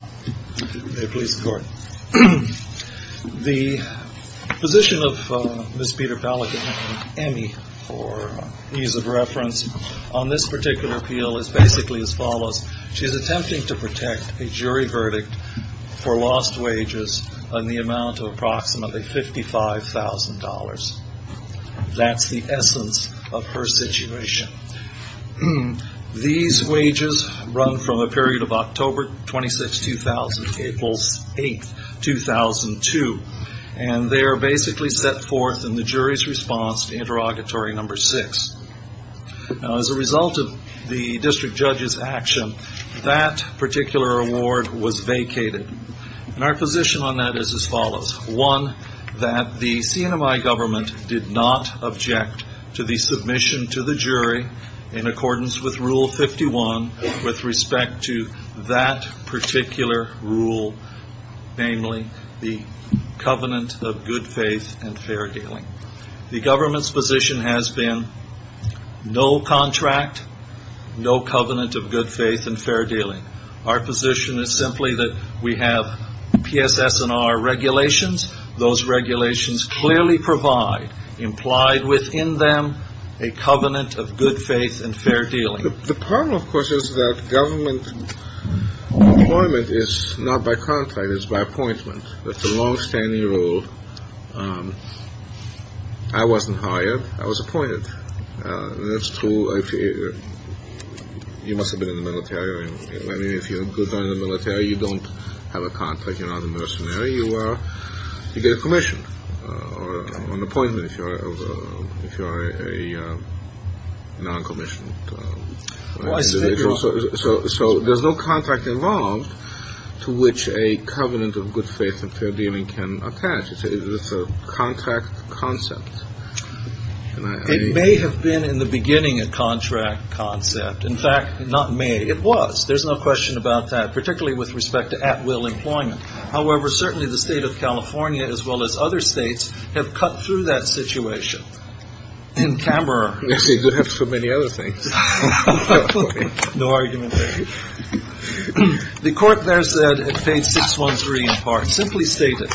The position of Ms. Peter-Pelican and Emmy, for ease of reference, on this particular appeal is basically as follows. She is attempting to protect a jury verdict for lost wages in the amount of approximately $55,000. That's the essence of her situation. These wages run from a period of October 26, 2000 to April 8, 2002. They are basically set forth in the jury's response to interrogatory number six. As a result of the district judge's action, that particular award was vacated. Our position on that is as follows. One, that the CNMI government did not object to the submission to the jury in accordance with Rule 51 with respect to that particular rule, namely the covenant of good faith and fair dealing. The government's position has been no contract, no covenant of good faith and fair dealing. Our position is simply that we have PSS&R regulations. Those regulations clearly provide, implied within them, a covenant of good faith and fair dealing. The problem, of course, is that government employment is not by contract. It's by appointment. That's a longstanding rule. I wasn't hired. I was appointed. That's true. You must have been in the military. I mean, if you're good in the military, you don't have a contract. You're not a mercenary. You get a commission or an appointment if you're a non-commissioned. So there's no contract involved to which a covenant of good faith and fair dealing can attach. It's a contract concept. It may have been in the beginning a contract concept. In fact, not may, it was. There's no question about that, particularly with respect to at-will employment. However, certainly the state of California, as well as other states, have cut through that situation. In Camerer, we have so many other things. No argument there. The court there said it paid 613 in part. Simply state it.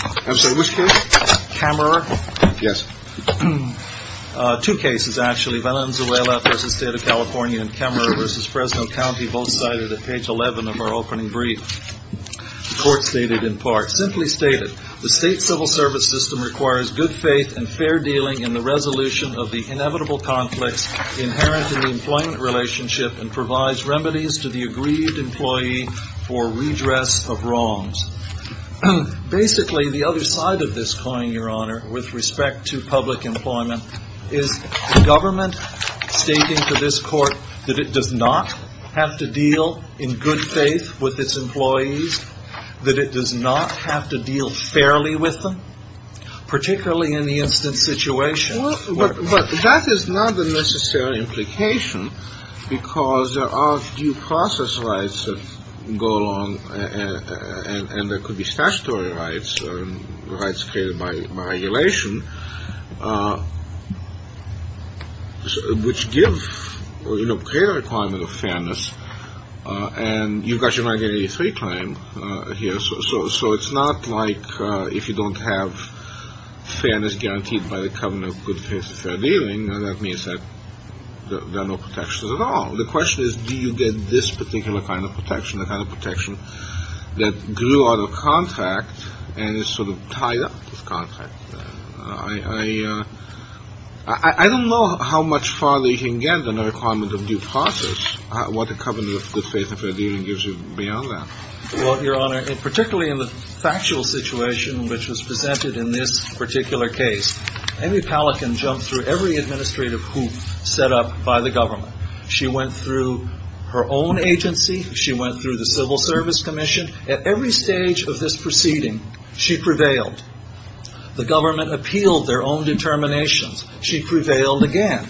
Which case? Camerer. Yes. Two cases, actually. Venezuela v. State of California and Camerer v. Fresno County, both cited at page 11 of our opening brief. The court stated in part. Simply state it. The state civil service system requires good faith and fair dealing in the resolution of the inevitable conflicts inherent in the employment relationship and provides remedies to the agreed employee for redress of wrongs. Basically, the other side of this coin, Your Honor, with respect to public employment, is the government stating to this court that it does not have to deal in good faith with its employees, that it does not have to deal fairly with them, particularly in the instant situation. Well, but that is not the necessary implication because there are due process rights that go along, and there could be statutory rights, rights created by regulation, which give or create a requirement of fairness, and you've got your 983 claim here, so it's not like if you don't have fairness guaranteed by the covenant of good faith and fair dealing, that means that there are no protections at all. The question is, do you get this particular kind of protection, the kind of protection that grew out of contract and is sort of tied up with contract? I don't know how much farther you can get than a requirement of due process, what a covenant of good faith and fair dealing gives you beyond that. Well, Your Honor, particularly in the factual situation which was presented in this particular case, Amy Pallack can jump through every administrative hoop set up by the government. She went through her own agency. She went through the Civil Service Commission. At every stage of this proceeding, she prevailed. The government appealed their own determinations. She prevailed again.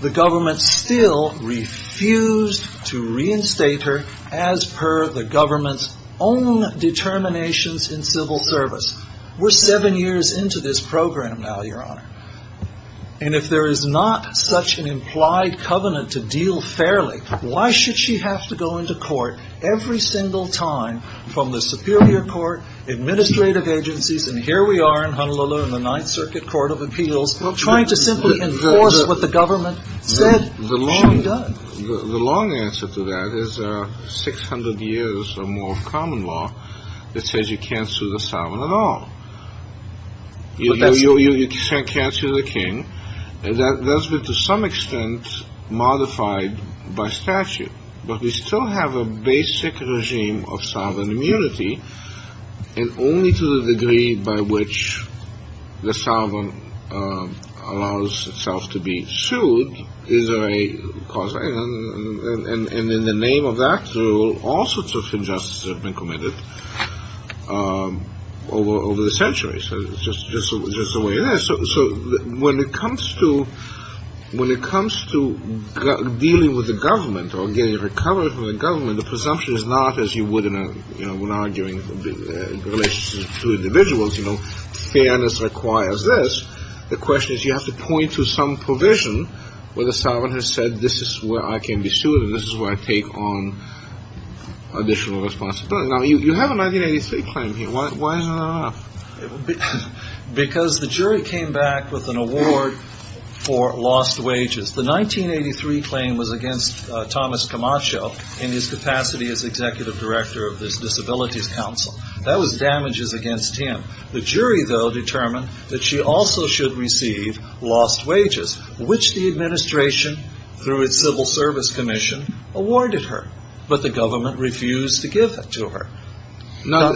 The government still refused to reinstate her as per the government's own determinations in civil service. We're seven years into this program now, Your Honor, and if there is not such an implied covenant to deal fairly, why should she have to go into court every single time from the superior court, administrative agencies, and here we are in Honolulu in the Ninth Circuit Court of Appeals trying to simply enforce what the government said and done? The long answer to that is 600 years or more of common law that says you can't sue the some extent modified by statute, but we still have a basic regime of sovereign immunity and only to the degree by which the sovereign allows itself to be sued is a cause. And in the name of that, there are all sorts of injustices that have been committed over the centuries. It's just the way it is. So when it comes to dealing with the government or getting recovered from the government, the presumption is not, as you would in an argument in relation to individuals, you know, fairness requires this. The question is you have to point to some provision where the sovereign has said this is where I can be sued and this is where I take on additional responsibility. Now, you have a 1983 claim here. Why is it not enough? Because the jury came back with an award for lost wages. The 1983 claim was against Thomas Camacho in his capacity as Executive Director of the Disabilities Council. That was damages against him. The jury, though, determined that she also should receive lost wages, which the administration, through its Civil Service Commission, awarded her, but the government refused to give it to her. Now, I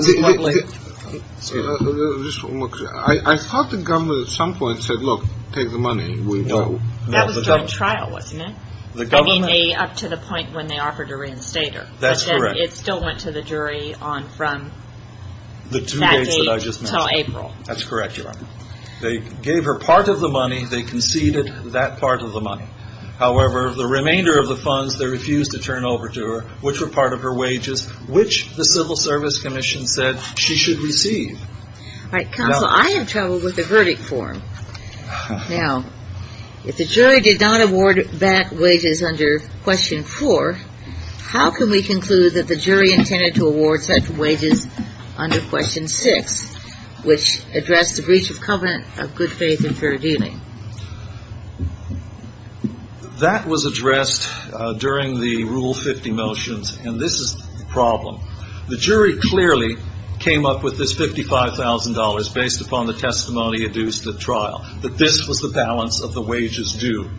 thought the government at some point said, look, take the money. No. That was during trial, wasn't it? I mean, up to the point when they offered to reinstate her. That's correct. But then it still went to the jury on from that date to April. That's correct, Your Honor. They gave her part of the money. They conceded that part of the money. However, of the remainder of the funds, they refused to turn over to her, which were Civil Service Commission said she should receive. All right. Counsel, I have trouble with the verdict form. Now, if the jury did not award back wages under Question 4, how can we conclude that the jury intended to award such wages under Question 6, which addressed the breach of covenant of good faith and fair dealing? That was addressed during the Rule 50 motions, and this is the problem. The jury clearly came up with this $55,000 based upon the testimony adduced at trial, that this was the balance of the wages due.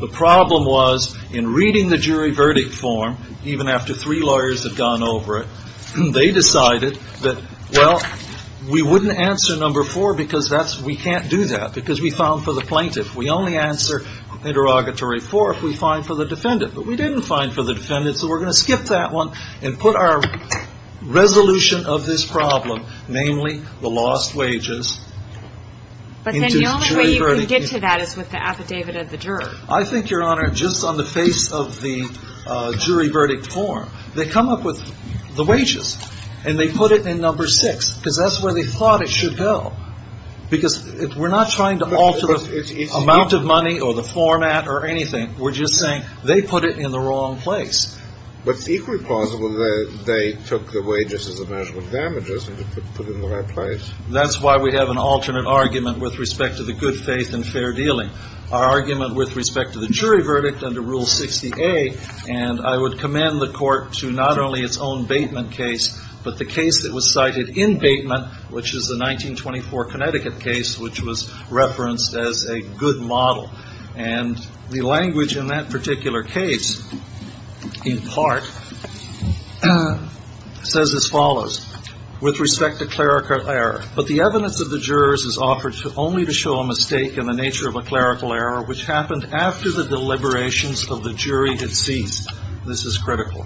The problem was, in reading the jury verdict form, even after three lawyers had gone over it, they decided that, well, we wouldn't answer Number 4 because we can't find for the plaintiff. We only answer Interrogatory 4 if we find for the defendant. But we didn't find for the defendant, so we're going to skip that one and put our resolution of this problem, namely the lost wages, into jury verdict form. But then the only way you can get to that is with the affidavit of the juror. I think, Your Honor, just on the face of the jury verdict form, they come up with the wages, and they put it in Number 6, because that's where they thought it should go. Because we're not trying to alter the amount of money or the format or anything. We're just saying they put it in the wrong place. But it's equally plausible that they took the wages as a measure of damages and put them in the right place. That's why we have an alternate argument with respect to the good faith and fair dealing. Our argument with respect to the jury verdict under Rule 60A, and I would commend the Court to not only its own Bateman case, but the case that was cited in Bateman, which is the 1924 Connecticut case, which was referenced as a good model. And the language in that particular case, in part, says as follows. With respect to clerical error, but the evidence of the jurors is offered only to show a mistake in the nature of a clerical error which happened after the deliberations of the jury had ceased. This is critical.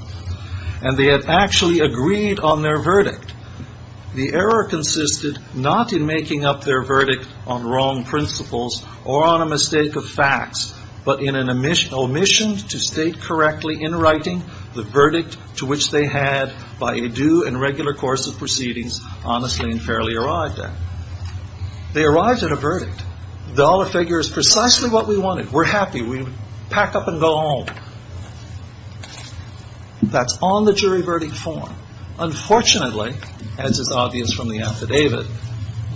And they had actually agreed on their verdict. The error consisted not in making up their verdict on wrong principles or on a mistake of facts, but in an omission to state correctly in writing the verdict to which they had, by a due and regular course of proceedings, honestly and fairly arrived at. They arrived at a verdict. The dollar figure is precisely what we wanted. We're happy. We pack up and go home. That's on the jury verdict form. Unfortunately, as is obvious from the affidavit,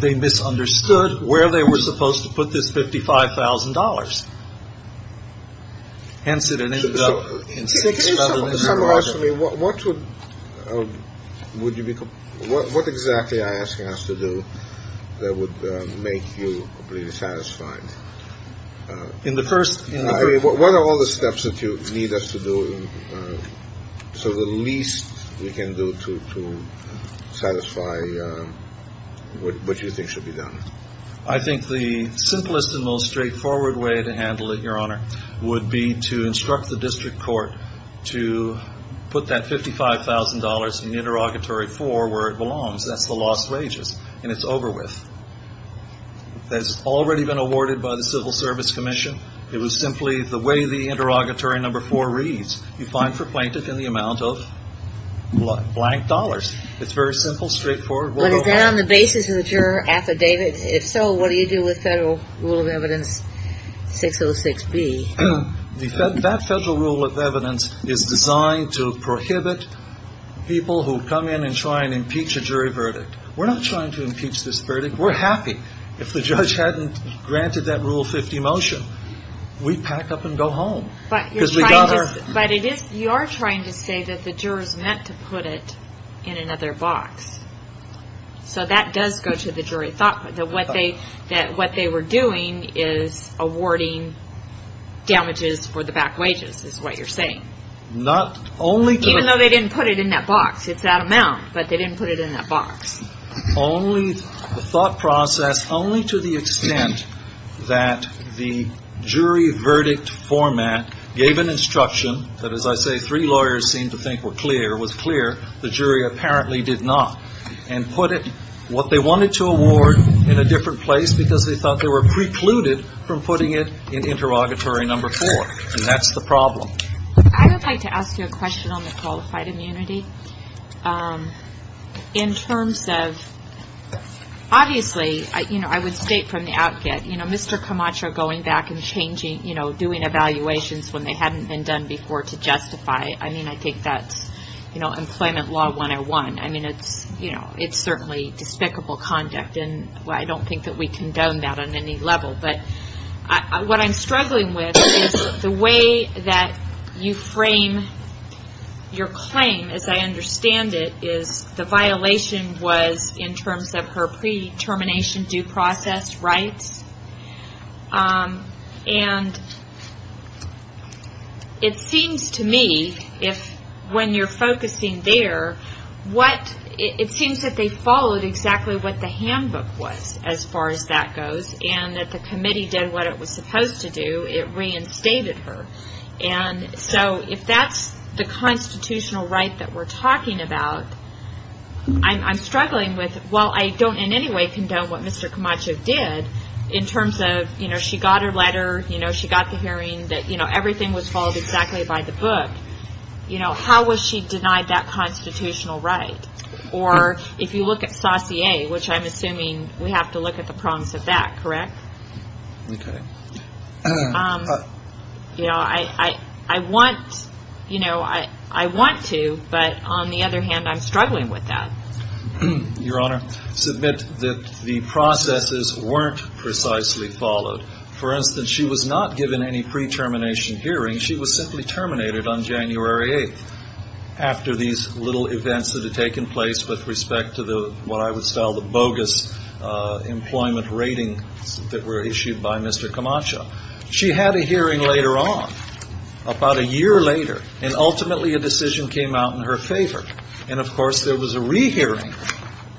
they misunderstood where they were supposed to put this $55,000. Hence, it ended up in six rather than seven. What would you be, what exactly are you asking us to do that would make you completely satisfied? In the first, what are all the steps that you need us to do so that at least we can do to satisfy what you think should be done? I think the simplest and most straightforward way to handle it, Your Honor, would be to instruct the district court to put that $55,000 in the interrogatory for where it belongs, that's the lost wages, and it's over with. That's already been awarded by the Civil Service Commission. It was simply the way the interrogatory number four reads. You find for plaintiff in the amount of blank dollars. It's very simple, straightforward. But is that on the basis of the juror affidavit? If so, what do you do with Federal Rule of Evidence 606B? That Federal Rule of Evidence is designed to prohibit people who come in and try and impeach a jury verdict. We're not trying to impeach this verdict. We're happy. If the judge hadn't granted that Rule 50 motion, we'd pack up and go home. But you're trying to say that the jurors meant to put it in another box. So that does go to the jury thought, that what they were doing is awarding damages for the back wages, is what you're saying. Even though they didn't put it in that box, it's that amount, but they didn't put it in that box. Only the thought process, only to the extent that the jury verdict format gave an instruction that, as I say, three lawyers seem to think were clear, was clear. The jury apparently did not. And put it, what they wanted to award, in a different place because they thought they were precluded from putting it in interrogatory number four. And that's the problem. I would like to ask you a question on the qualified immunity. In terms of, obviously, I would state from the out get, Mr. Camacho going back and changing, doing evaluations when they hadn't been done before to justify. I mean, I think that's employment law 101. I mean, it's certainly despicable conduct. And I don't think that we condone that on any level. But what I'm struggling with is the way that you frame your claim, as I understand it, is the violation was in terms of her pre-termination due process rights. And it seems to me, when you're focusing there, it seems that they followed exactly what the handbook was, as far as that goes. And that the committee did what it was supposed to do. It reinstated her. And so, if that's the constitutional right that we're talking about, I'm struggling with, well, I don't in any way condone what Mr. Camacho did. In terms of, you know, she got her letter, you know, she got the hearing that, you know, everything was followed exactly by the book. You know, how was she denied that constitutional right? Or, if you look at Saussure, which I'm assuming we have to look at the prongs of that, correct? Okay. You know, I want, you know, I want to, but on the other hand, I'm struggling with that. Your Honor, submit that the processes weren't precisely followed. For instance, she was not given any pre-termination hearing. She was simply terminated on January 8th, after these little events that had taken place with respect to the, what I would style the bogus employment rating that were issued by Mr. Camacho. She had a hearing later on, about a year later, and ultimately a decision came out in her favor. And of course, there was a re-hearing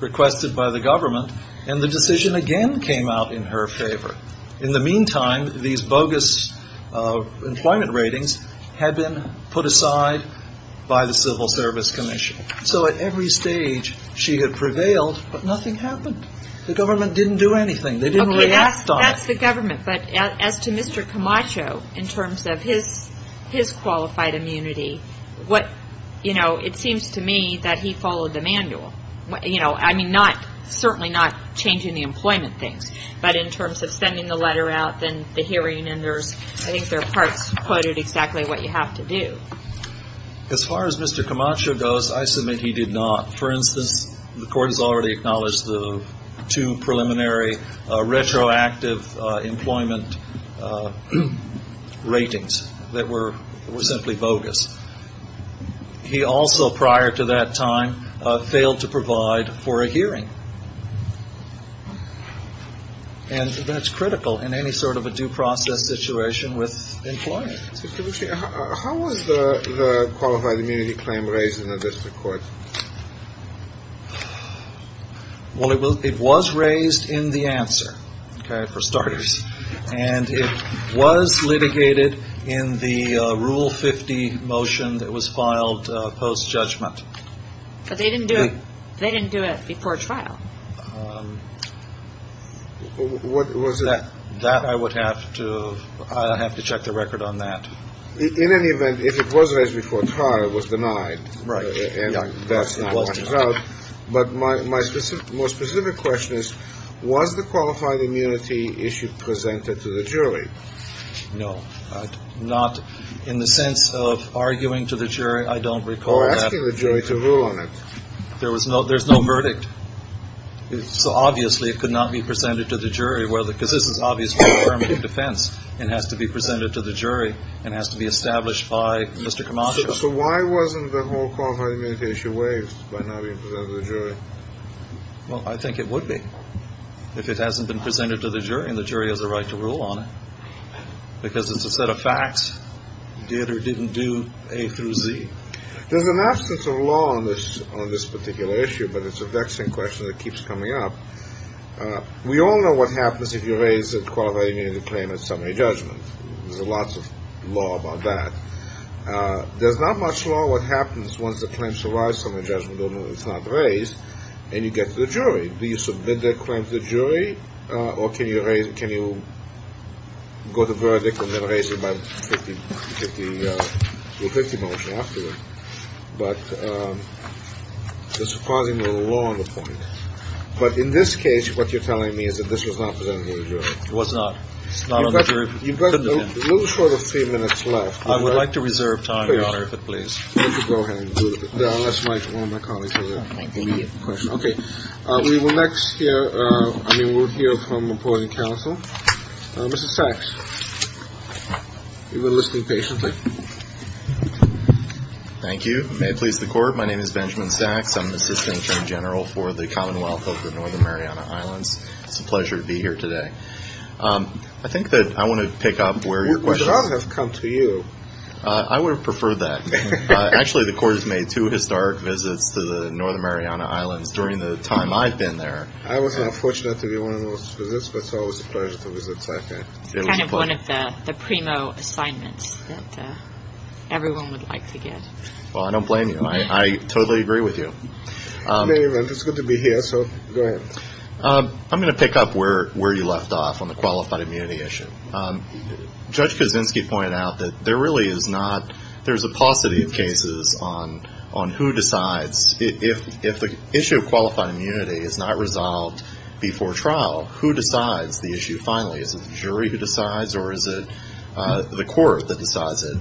requested by the government, and the decision again came out in her favor. In the meantime, these bogus employment ratings had been put aside by the Civil Service Commission. So, at every stage, she had prevailed, but nothing happened. The government didn't do anything. They didn't react on it. Okay, that's the government, but as to Mr. Camacho, in terms of his qualified immunity, what, you know, it seems to me that he followed the manual. You know, I mean, not, certainly not changing the employment things, but in terms of sending the letter out, then the hearing, and there's, I think there are parts quoted exactly what you have to do. As far as Mr. Camacho goes, I submit he did not. For instance, the Court has already acknowledged the two preliminary retroactive employment ratings that were simply bogus. He also, prior to that time, failed to provide for a hearing. And that's critical in any sort of a due process situation with employment. How was the qualified immunity claim raised in the District Court? Well, it was raised in the answer, okay, for starters. And it was litigated in the Rule 50 motion that was filed post-judgment. But they didn't do it before trial. What was it? That I would have to, I'd have to check the record on that. In any event, if it was raised before trial, it was denied. Right. And that's not what it's about. But my specific, more specific question is, was the qualified immunity issue presented to the jury? No, not in the sense of arguing to the jury. I don't recall asking the jury to rule on it. There was no, there's no verdict. So obviously it could not be presented to the jury, whether, because this is obviously affirmative defense and has to be presented to the jury and has to be established by Mr. Camacho. So why wasn't the whole qualified immunity issue waived by not being presented to the jury? Well, I think it would be if it hasn't been presented to the jury and the jury has a right to rule on it. Because it's a set of facts, did or didn't do A through Z. There's an absence of law on this, on this particular issue, but it's a vexing question that keeps coming up. We all know what happens if you raise a qualified immunity claim at summary judgment. There's lots of law about that. There's not much law what happens once the claim survives summary judgment, although it's not raised, and you get to the jury. Do you submit that claim to the jury or can you raise, can you go to verdict and then raise it by 50, 50, 50 motion after that? But there's a surprising amount of law on the point. But in this case, what you're telling me is that this was not presented to the jury. It was not. It's not on the jury. You've got a little short of three minutes left. I would like to reserve time, Your Honor, if it pleases you. Go ahead and do it, unless one of my colleagues has an immediate question. OK. We will next hear, I mean, we'll hear from the appointing counsel. Mr. Sachs, you've been listening patiently. Thank you. May it please the court. My name is Benjamin Sachs. I'm the assistant attorney general for the Commonwealth of the Northern Mariana Islands. It's a pleasure to be here today. I think that I want to pick up where your question has come to you. I would have preferred that. Actually, the court has made two historic visits to the Northern Mariana Islands during the time I've been there. I was unfortunate to be one of those visits, but it's always a pleasure to visit SACA. It was kind of one of the primo assignments that everyone would like to get. Well, I don't blame you. I totally agree with you. It's good to be here. So go ahead. I'm going to pick up where where you left off on the qualified immunity issue. Judge Kaczynski pointed out that there really is not, there's a paucity of cases on on who decides. If the issue of qualified immunity is not resolved before trial, who decides the issue finally? Is it the jury who decides or is it the court that decides it?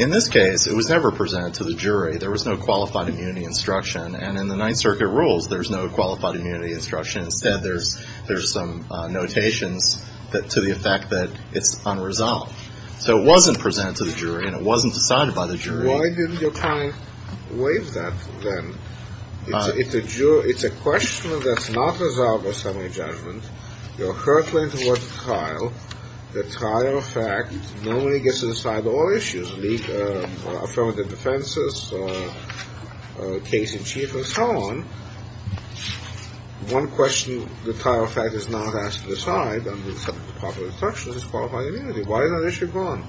In this case, it was never presented to the jury. There was no qualified immunity instruction. And in the Ninth Circuit rules, there's no qualified immunity instruction. Instead, there's there's some notations that to the effect that it's unresolved. So it wasn't presented to the jury and it wasn't decided by the jury. Why didn't your client waive that then? It's a question that's not resolved by summary judgment. Your court went to trial. The trial fact normally gets to decide all issues, affirmative defenses or case in chief and so on. One question, the trial fact is not asked to decide on the subject of proper instructions is qualified immunity. Why is that issue gone?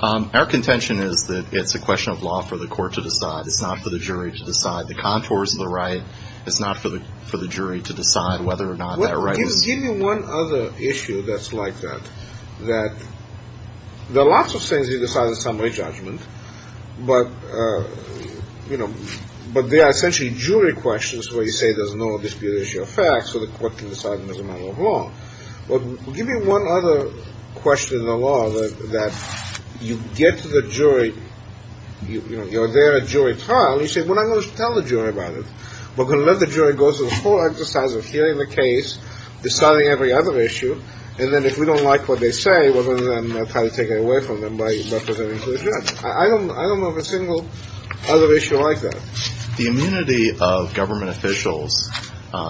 Our contention is that it's a question of law for the court to decide. It's not for the jury to decide. The contours of the right, it's not for the for the jury to decide whether or not that right is. Give me one other issue that's like that, that there are lots of things you decide in summary judgment, but, you know, but they are essentially jury questions where you say there's no disputation of facts or the court can decide as a matter of law. Well, give me one other question in the law that you get to the jury, you know, you're there at jury trial. You say, well, I'm going to tell the jury about it. We're going to let the jury go through the whole exercise of hearing the case, deciding every other issue. And then if we don't like what they say, we're going to try to take it away from them by representing the judge. I don't know of a single other issue like that. The immunity of government officials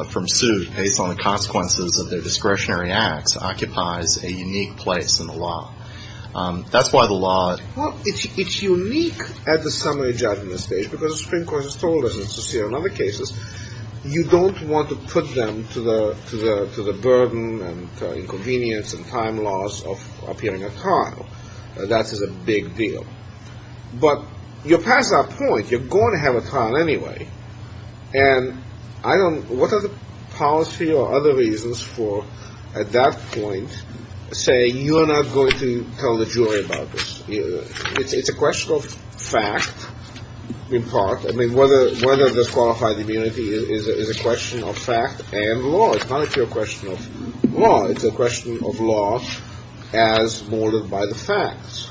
from suit based on the consequences of their discretionary acts occupies a unique place in the law. That's why the law. Well, it's unique at the summary judgment stage because the Supreme Court has told us it's the same in other cases. You don't want to put them to the to the to the burden and inconvenience and time loss of appearing at trial. That is a big deal. But you're past that point. You're going to have a trial anyway. And I don't. What are the policy or other reasons for at that point saying you are not going to tell the jury about this? It's a question of fact, in part. I mean, whether whether this qualified immunity is a question of fact and law, it's not a question of law. It's a question of law as molded by the facts.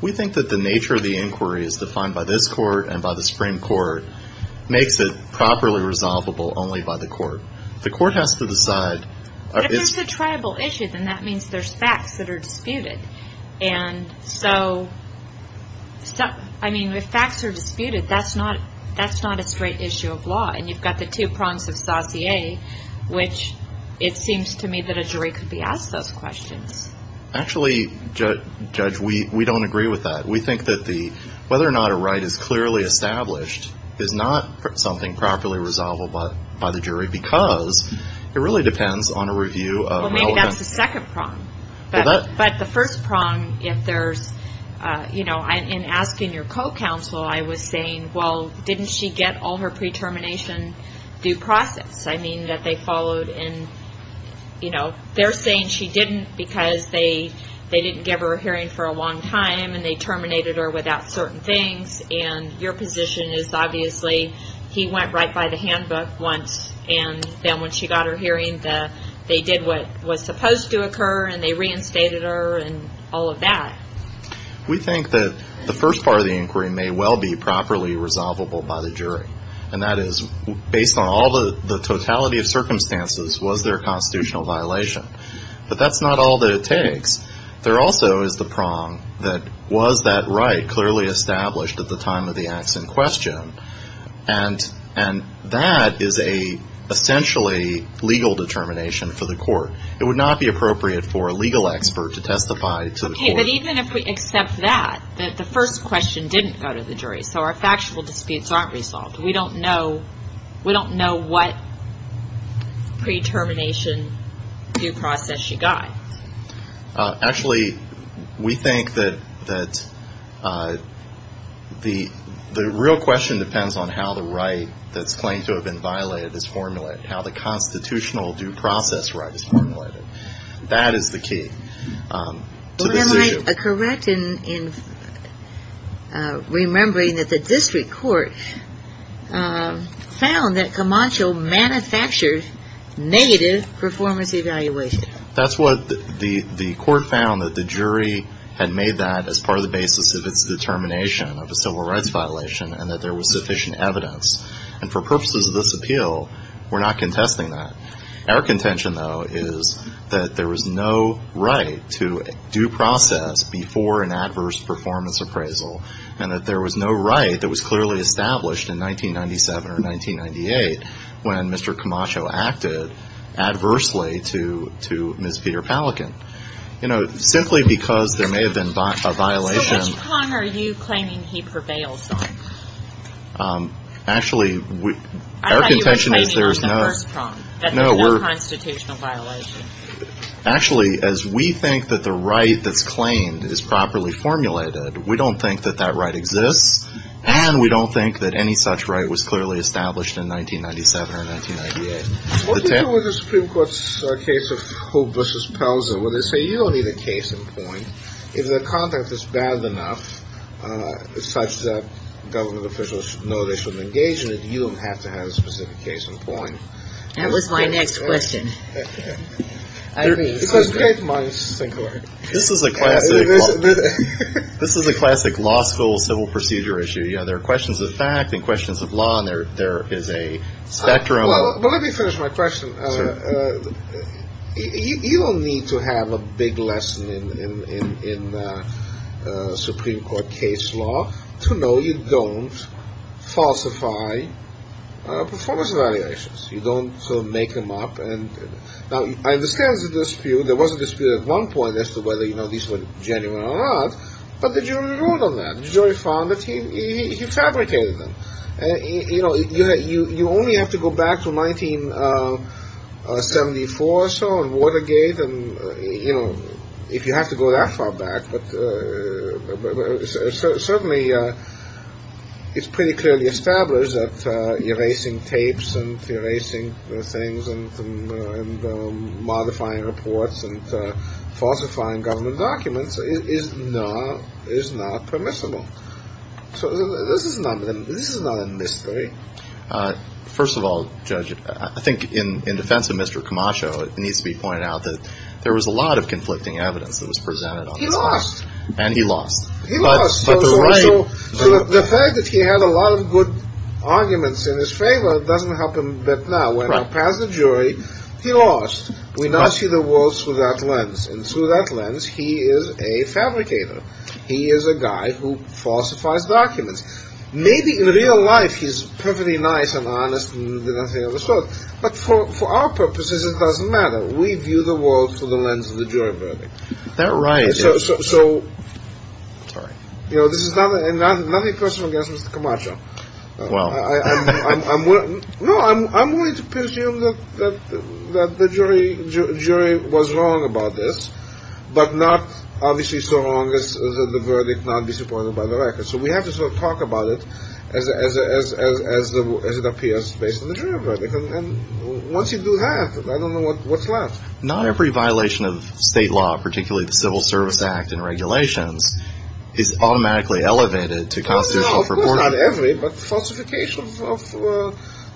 We think that the nature of the inquiry is defined by this court and by the Supreme Court makes it properly resolvable only by the court. The court has to decide if it's a tribal issue, then that means there's facts that are disputed. And so I mean, if facts are disputed, that's not that's not a straight issue of law. And you've got the two prongs of Saussure, which it seems to me that a jury could be asked those questions. Actually, Judge, we we don't agree with that. We think that the whether or not a right is clearly established is not something properly resolvable by the jury, because it really depends on a review. Well, maybe that's the second prong. But the first prong, if there's, you know, in asking your co-counsel, I was saying, well, didn't she get all her pre-termination due process? I mean, that they followed and, you know, they're saying she didn't because they they didn't give her a hearing for a long time and they terminated her without certain things. And your position is obviously he went right by the handbook once. And then when she got her hearing, they did what was supposed to occur and they reinstated her and all of that. We think that the first part of the inquiry may well be properly resolvable by the jury, and that is based on all the the totality of circumstances, was there a constitutional violation? But that's not all that it takes. There also is the prong that was that right clearly established at the time of the acts in question. And and that is a essentially legal determination for the court. It would not be appropriate for a legal expert to testify. But even if we accept that, that the first question didn't go to the jury. So our factual disputes aren't resolved. We don't know. We don't know what pre-termination due process she got. Actually, we think that that the the real question depends on how the right that's claimed to have been violated is formulated, how the constitutional due process right is formulated. That is the key. Am I correct in remembering that the district court found that Camacho manufactured negative performance evaluation? That's what the the court found, that the jury had made that as part of the basis of its determination of a civil rights violation and that there was sufficient evidence. And for purposes of this appeal, we're not contesting that. Our contention, though, is that there was no right to due process before an adverse performance appraisal and that there was no right that was clearly established in 1997 or 1998 when Mr. Camacho acted adversely to to Ms. Peter Pelican, you know, simply because there may have been a violation. So which prong are you claiming he prevails on? Actually, we are contention is there is no no constitutional violation. Actually, as we think that the right that's claimed is properly formulated. We don't think that that right exists. And we don't think that any such right was clearly established in 1997 or 1998. What do you do with the Supreme Court's case of who Bush's pals are where they say you don't need a case in point. If the content is bad enough, it's such that government officials know they shouldn't engage in it. You don't have to have a specific case in point. That was my next question. It was great months. This is a classic. This is a classic law school civil procedure issue. You know, there are questions of fact and questions of law. And there there is a spectrum. Well, let me finish my question. You don't need to have a big lesson in the Supreme Court case law to know you don't falsify performance evaluations. You don't make them up. And I understand the dispute. There was a dispute at one point as to whether, you know, these were genuine or not. But the jury ruled on that. The jury found that he fabricated them. And, you know, you only have to go back to 1974 or so and Watergate. And, you know, if you have to go that far back, but certainly it's pretty clearly established that erasing tapes and erasing things and modifying reports and falsifying government documents is not is not permissible. So this is not this is not a mystery. First of all, judge, I think in defense of Mr. Camacho, it needs to be pointed out that there was a lot of conflicting evidence that was presented. He lost and he lost. But the fact that he had a lot of good arguments in his favor doesn't help him. But now when I pass the jury, he lost. We now see the world through that lens and through that lens. He is a fabricator. He is a guy who falsifies documents, maybe in real life. He's perfectly nice and honest. But for our purposes, it doesn't matter. We view the world through the lens of the jury verdict. That's right. So, you know, this is not nothing personal against Mr. Camacho. Well, no, I'm willing to presume that the jury jury was wrong about this, but not obviously so long as the verdict not be supported by the record. So we have to sort of talk about it as as as as as it appears based on the jury verdict. And once you do that, I don't know what what's left. Not every violation of state law, particularly the Civil Service Act and regulations, is automatically elevated to constitutional. Of course, not every, but falsification of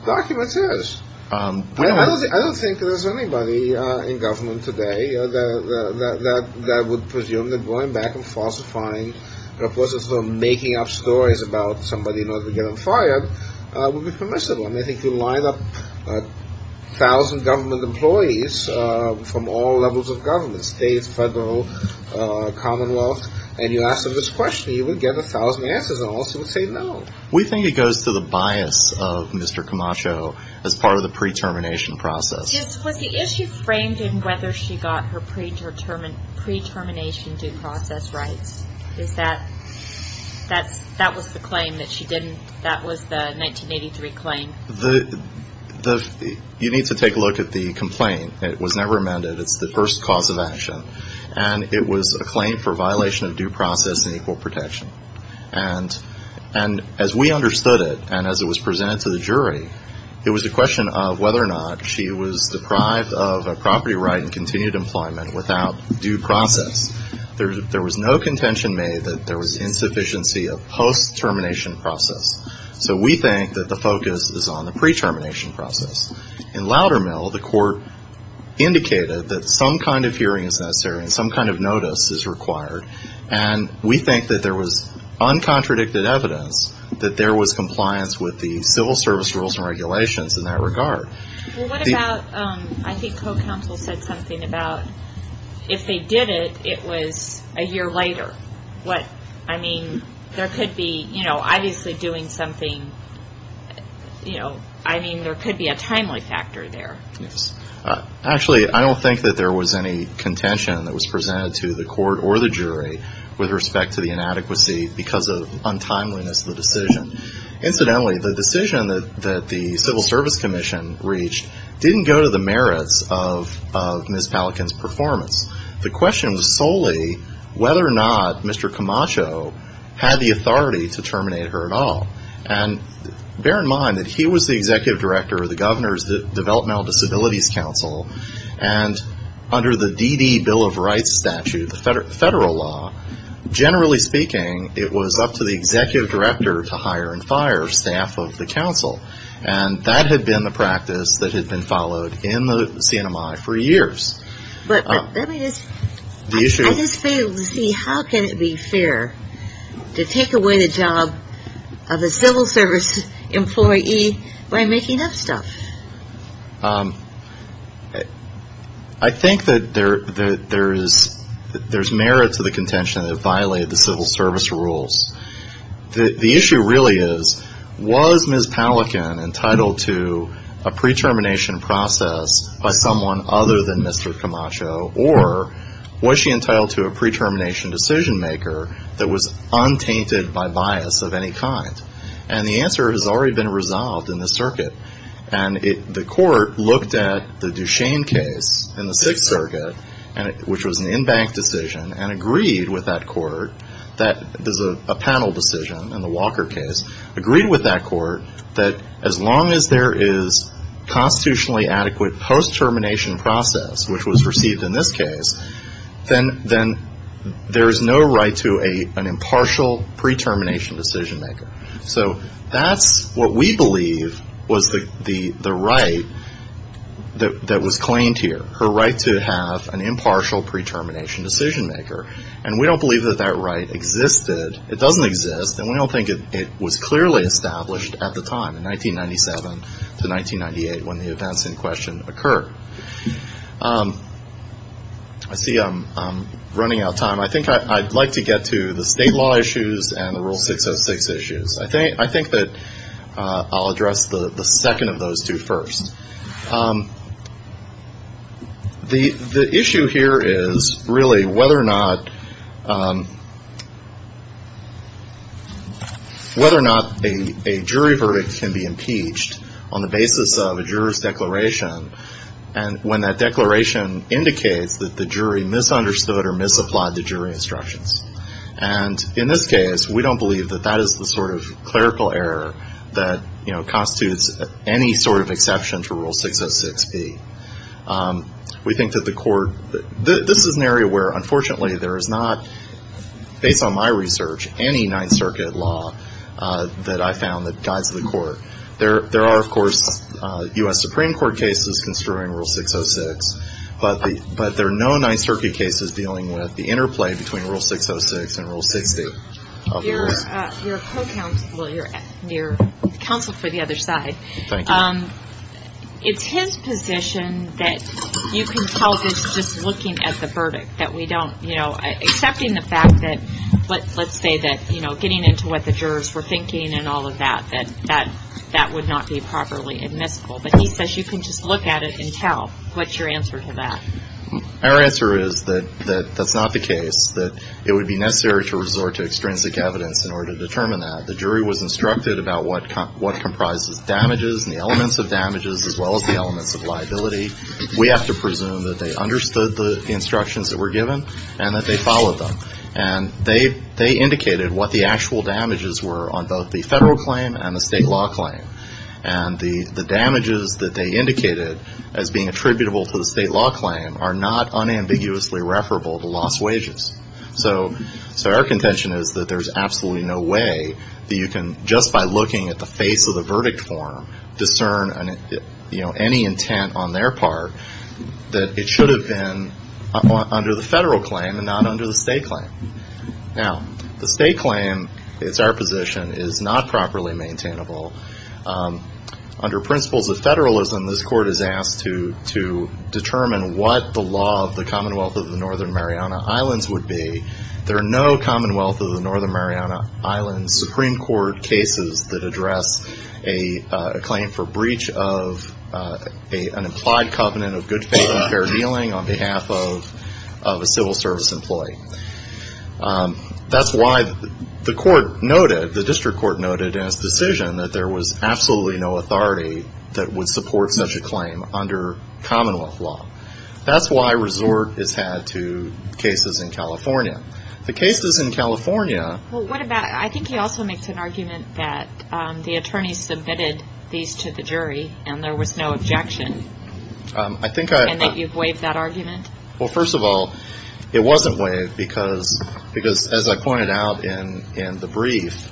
documents is. I don't think there's anybody in government today that would presume that going back and falsifying or making up stories about somebody not getting fired would be permissible. And I think you line up a thousand government employees from all levels of government, state, federal, commonwealth, and you ask them this question, you would get a thousand answers and also would say no. We think it goes to the bias of Mr. Camacho as part of the pre-termination process. Was the issue framed in whether she got her pre-determined pre-termination due process rights? Is that that's that was the claim that she didn't. That was the 1983 claim that you need to take a look at the complaint. It was never amended. It's the first cause of action, and it was a claim for violation of due process and equal protection. And as we understood it and as it was presented to the jury, it was a question of whether or not she was deprived of a property right and continued employment without due process. There was no contention made that there was insufficiency of post-termination process. So we think that the focus is on the pre-termination process. In Loudermill, the court indicated that some kind of hearing is necessary and some kind of notice is required, and we think that there was uncontradicted evidence that there was compliance with the civil service rules and regulations in that regard. Well, what about I think co-counsel said something about if they did it, it was a year later. I mean, there could be, you know, obviously doing something, you know, I mean, there could be a timely factor there. Yes. Actually, I don't think that there was any contention that was presented to the court or the jury with respect to the inadequacy because of untimeliness of the decision. Incidentally, the decision that the Civil Service Commission reached didn't go to the merits of Ms. Palikin's performance. The question was solely whether or not Mr. Camacho had the authority to terminate her at all. And bear in mind that he was the executive director of the Governor's Developmental Disabilities Council, and under the DD Bill of Rights statute, the federal law, generally speaking, it was up to the executive director to hire and fire staff of the council. And that had been the practice that had been followed in the CNMI for years. But let me just – The issue – I just fail to see how can it be fair to take away the job of a civil service employee by making up stuff? I think that there is merit to the contention that it violated the civil service rules. The issue really is, was Ms. Palikin entitled to a pre-termination process by someone other than Mr. Camacho, or was she entitled to a pre-termination decision maker that was untainted by bias of any kind? And the answer has already been resolved in the circuit. And the court looked at the Duchesne case in the Sixth Circuit, which was an in-bank decision, and agreed with that court that – there's a panel decision in the Walker case – agreed with that court that as long as there is constitutionally adequate post-termination process, which was received in this case, then there is no right to an impartial pre-termination decision maker. So that's what we believe was the right that was claimed here, her right to have an impartial pre-termination decision maker. And we don't believe that that right existed. It doesn't exist, and we don't think it was clearly established at the time, in 1997 to 1998 when the events in question occurred. I see I'm running out of time. I think I'd like to get to the state law issues and the Rule 606 issues. I think that I'll address the second of those two first. The issue here is really whether or not a jury verdict can be impeached on the basis of a juror's declaration when that declaration indicates that the jury misunderstood or misapplied the jury instructions. And in this case, we don't believe that that is the sort of clerical error that, you know, constitutes any sort of exception to Rule 606B. We think that the court – this is an area where, unfortunately, there is not, based on my research, any Ninth Circuit law that I found that guides the court. There are, of course, U.S. Supreme Court cases construing Rule 606, but there are no Ninth Circuit cases dealing with the interplay between Rule 606 and Rule 60. Your counsel for the other side, it's his position that you can tell that he's just looking at the verdict, that we don't, you know, accepting the fact that, let's say that, you know, getting into what the jurors were thinking and all of that, that that would not be properly admissible. But he says you can just look at it and tell. What's your answer to that? Our answer is that that's not the case, that it would be necessary to resort to extrinsic evidence in order to determine that. The jury was instructed about what comprises damages and the elements of damages as well as the elements of liability. We have to presume that they understood the instructions that were given and that they followed them. And they indicated what the actual damages were on both the federal claim and the state law claim. And the damages that they indicated as being attributable to the state law claim are not unambiguously referable to lost wages. So our contention is that there's absolutely no way that you can just by looking at the face of the verdict form discern, you know, any intent on their part that it should have been under the federal claim and not under the state claim. Now, the state claim, it's our position, is not properly maintainable. Under principles of federalism, this court is asked to determine what the law of the Commonwealth of the Northern Mariana Islands would be. There are no Commonwealth of the Northern Mariana Islands Supreme Court cases that address a claim for breach of an implied covenant of good faith and fair dealing on behalf of a civil service employee. That's why the court noted, the district court noted in its decision that there was absolutely no authority that would support such a claim under Commonwealth law. That's why resort is had to cases in California. The cases in California. Well, what about, I think he also makes an argument that the attorney submitted these to the jury and there was no objection. I think you've waived that argument. Well, first of all, it wasn't waived because because as I pointed out in the brief,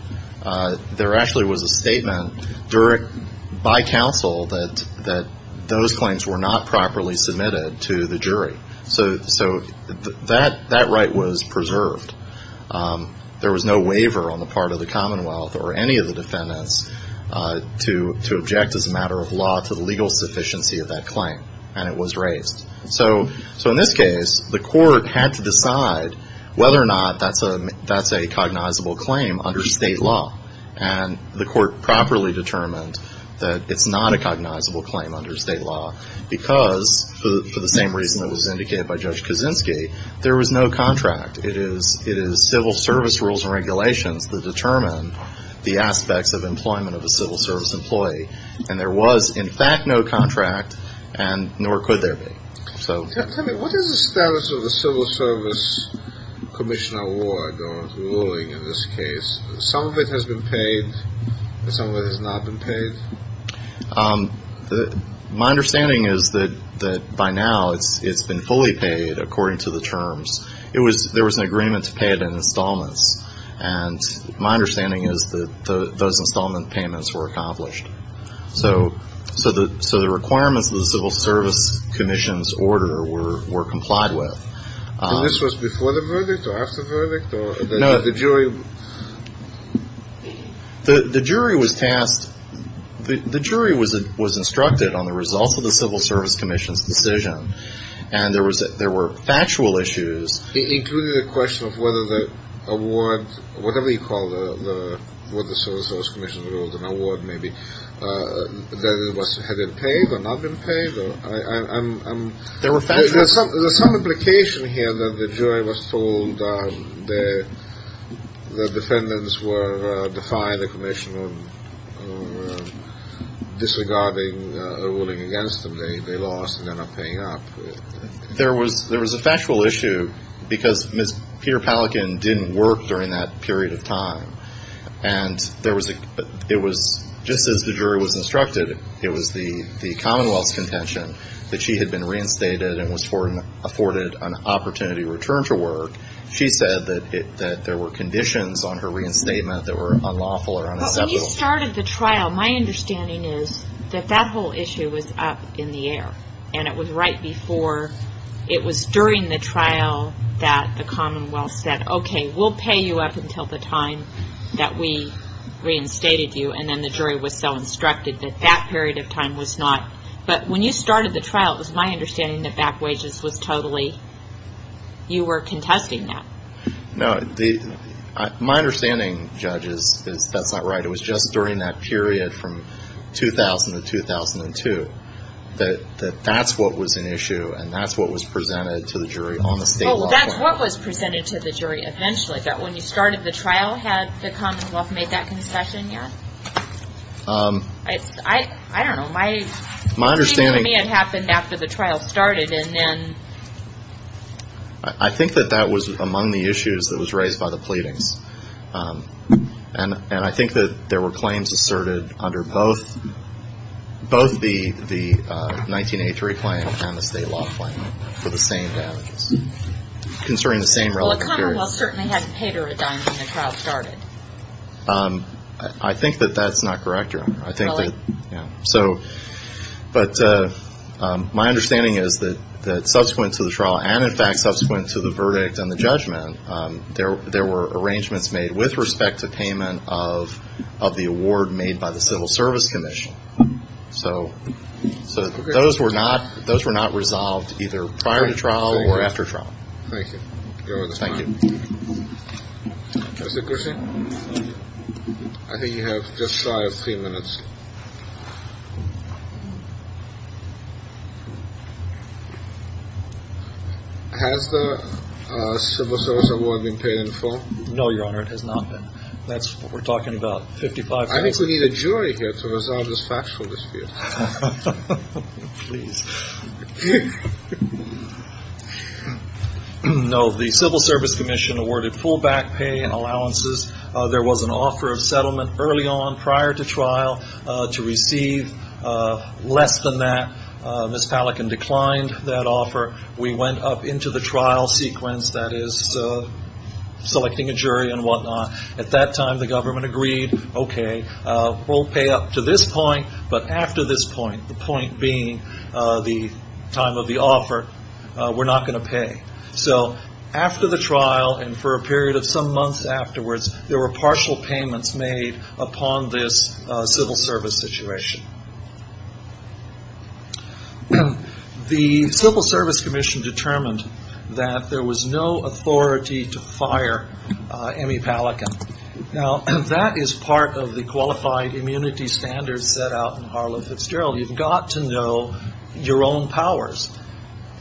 there actually was a statement direct by counsel that that those claims were not properly submitted to the jury. So so that that right was preserved. There was no waiver on the part of the Commonwealth or any of the defendants to to object as a matter of law to the legal sufficiency of that claim. And it was raised. So. So in this case, the court had to decide whether or not that's a that's a cognizable claim under state law. And the court properly determined that it's not a cognizable claim under state law because for the same reason that was indicated by Judge Kaczynski, there was no contract. It is it is civil service rules and regulations that determine the aspects of employment of a civil service employee. And there was, in fact, no contract. And nor could there be. So what is the status of the Civil Service Commission award or ruling in this case? Some of it has been paid. Some of it has not been paid. My understanding is that that by now it's it's been fully paid according to the terms. It was there was an agreement to pay it in installments. And my understanding is that those installment payments were accomplished. So. So the so the requirements of the Civil Service Commission's order were were complied with. This was before the verdict or after the verdict or the jury. The jury was tasked. The jury was was instructed on the results of the Civil Service Commission's decision. And there was there were factual issues, including the question of whether the award, whatever you call the what the Civil Service Commission ruled an award, maybe that it was had it paid or not been paid. I'm there were some there's some implication here that the jury was told that the defendants were defying the commission. Disregarding the ruling against them. They lost and they're not paying up. There was there was a factual issue because Miss Peter Pelican didn't work during that period of time. And there was a it was just as the jury was instructed. It was the the Commonwealth's contention that she had been reinstated and was afforded an opportunity return to work. She said that there were conditions on her reinstatement that were unlawful or unacceptable. When you started the trial, my understanding is that that whole issue was up in the air. And it was right before it was during the trial that the Commonwealth said, OK, we'll pay you up until the time that we reinstated you. And then the jury was so instructed that that period of time was not. But when you started the trial, it was my understanding that back wages was totally. You were contesting that. No, the my understanding, judges, is that's not right. It was just during that period from 2000 to 2002 that that's what was an issue. And that's what was presented to the jury on the state level. That's what was presented to the jury eventually. But when you started the trial, had the Commonwealth made that concession yet? I don't know my my understanding. It happened after the trial started. And then I think that that was among the issues that was raised by the pleadings. And I think that there were claims asserted under both both the the 1983 claim and the state law claim for the same concerning the same. Well, the Commonwealth certainly hadn't paid her a dime when the trial started. I think that that's not correct. I think so. But my understanding is that that subsequent to the trial and in fact subsequent to the verdict and the judgment, there were arrangements made with respect to payment of of the award made by the Civil Service Commission. So so those were not those were not resolved either prior to trial or after trial. Thank you. Thank you. I think you have just five minutes. Has the civil service award been paid in full? No, Your Honor, it has not been. That's what we're talking about. I think we need a jury here to resolve this factual dispute. Please. No, the Civil Service Commission awarded full back pay and allowances. There was an offer of settlement early on prior to trial to receive less than that. Miss Palachin declined that offer. We went up into the trial sequence that is selecting a jury and whatnot. At that time, the government agreed, OK, we'll pay up to this point. But after this point, the point being the time of the offer, we're not going to pay. So after the trial and for a period of some months afterwards, there were partial payments made upon this civil service situation. The Civil Service Commission determined that there was no authority to fire Emmy Palachin. Now, that is part of the qualified immunity standards set out in Harlow Fitzgerald. You've got to know your own powers.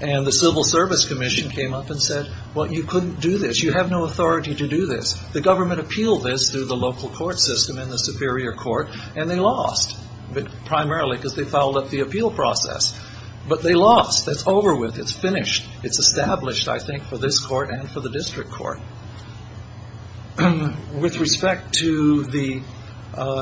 And the Civil Service Commission came up and said, well, you couldn't do this. You have no authority to do this. The government appealed this through the local court system in the Superior Court, and they lost. But primarily because they followed up the appeal process. But they lost. That's over with. It's finished. It's established, I think, for this court and for the district court. With respect to the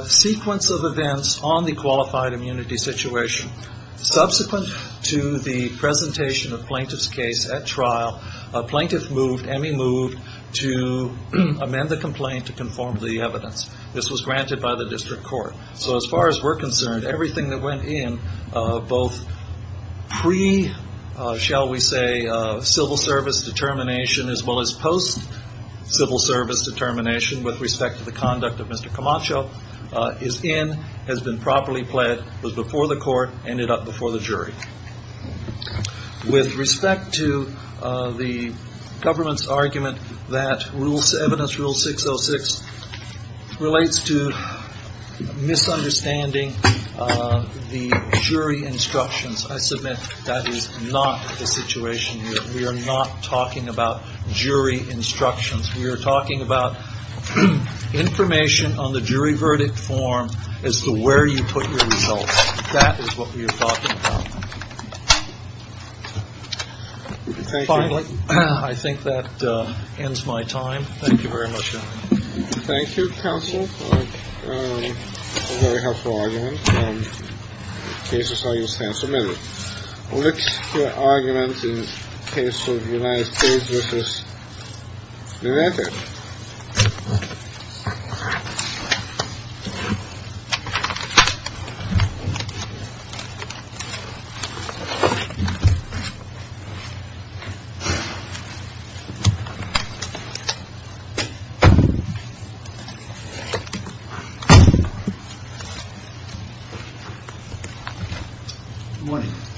sequence of events on the qualified immunity situation, subsequent to the presentation of plaintiff's case at trial, a plaintiff moved, Emmy moved, to amend the complaint to conform to the evidence. This was granted by the district court. So as far as we're concerned, everything that went in both pre, shall we say, civil service determination, as well as post-civil service determination with respect to the conduct of Mr. Camacho is in, has been properly pled, was before the court, ended up before the jury. With respect to the government's argument that evidence rule 606 relates to misunderstanding the jury instructions, I submit that is not the situation here. We are not talking about jury instructions. We are talking about information on the jury verdict form as to where you put your results. That is what we are talking about. Finally, I think that ends my time. Thank you very much. Thank you, counsel, for a very helpful argument. This is how you stand submitted. Which argument in case of United States versus. Remember.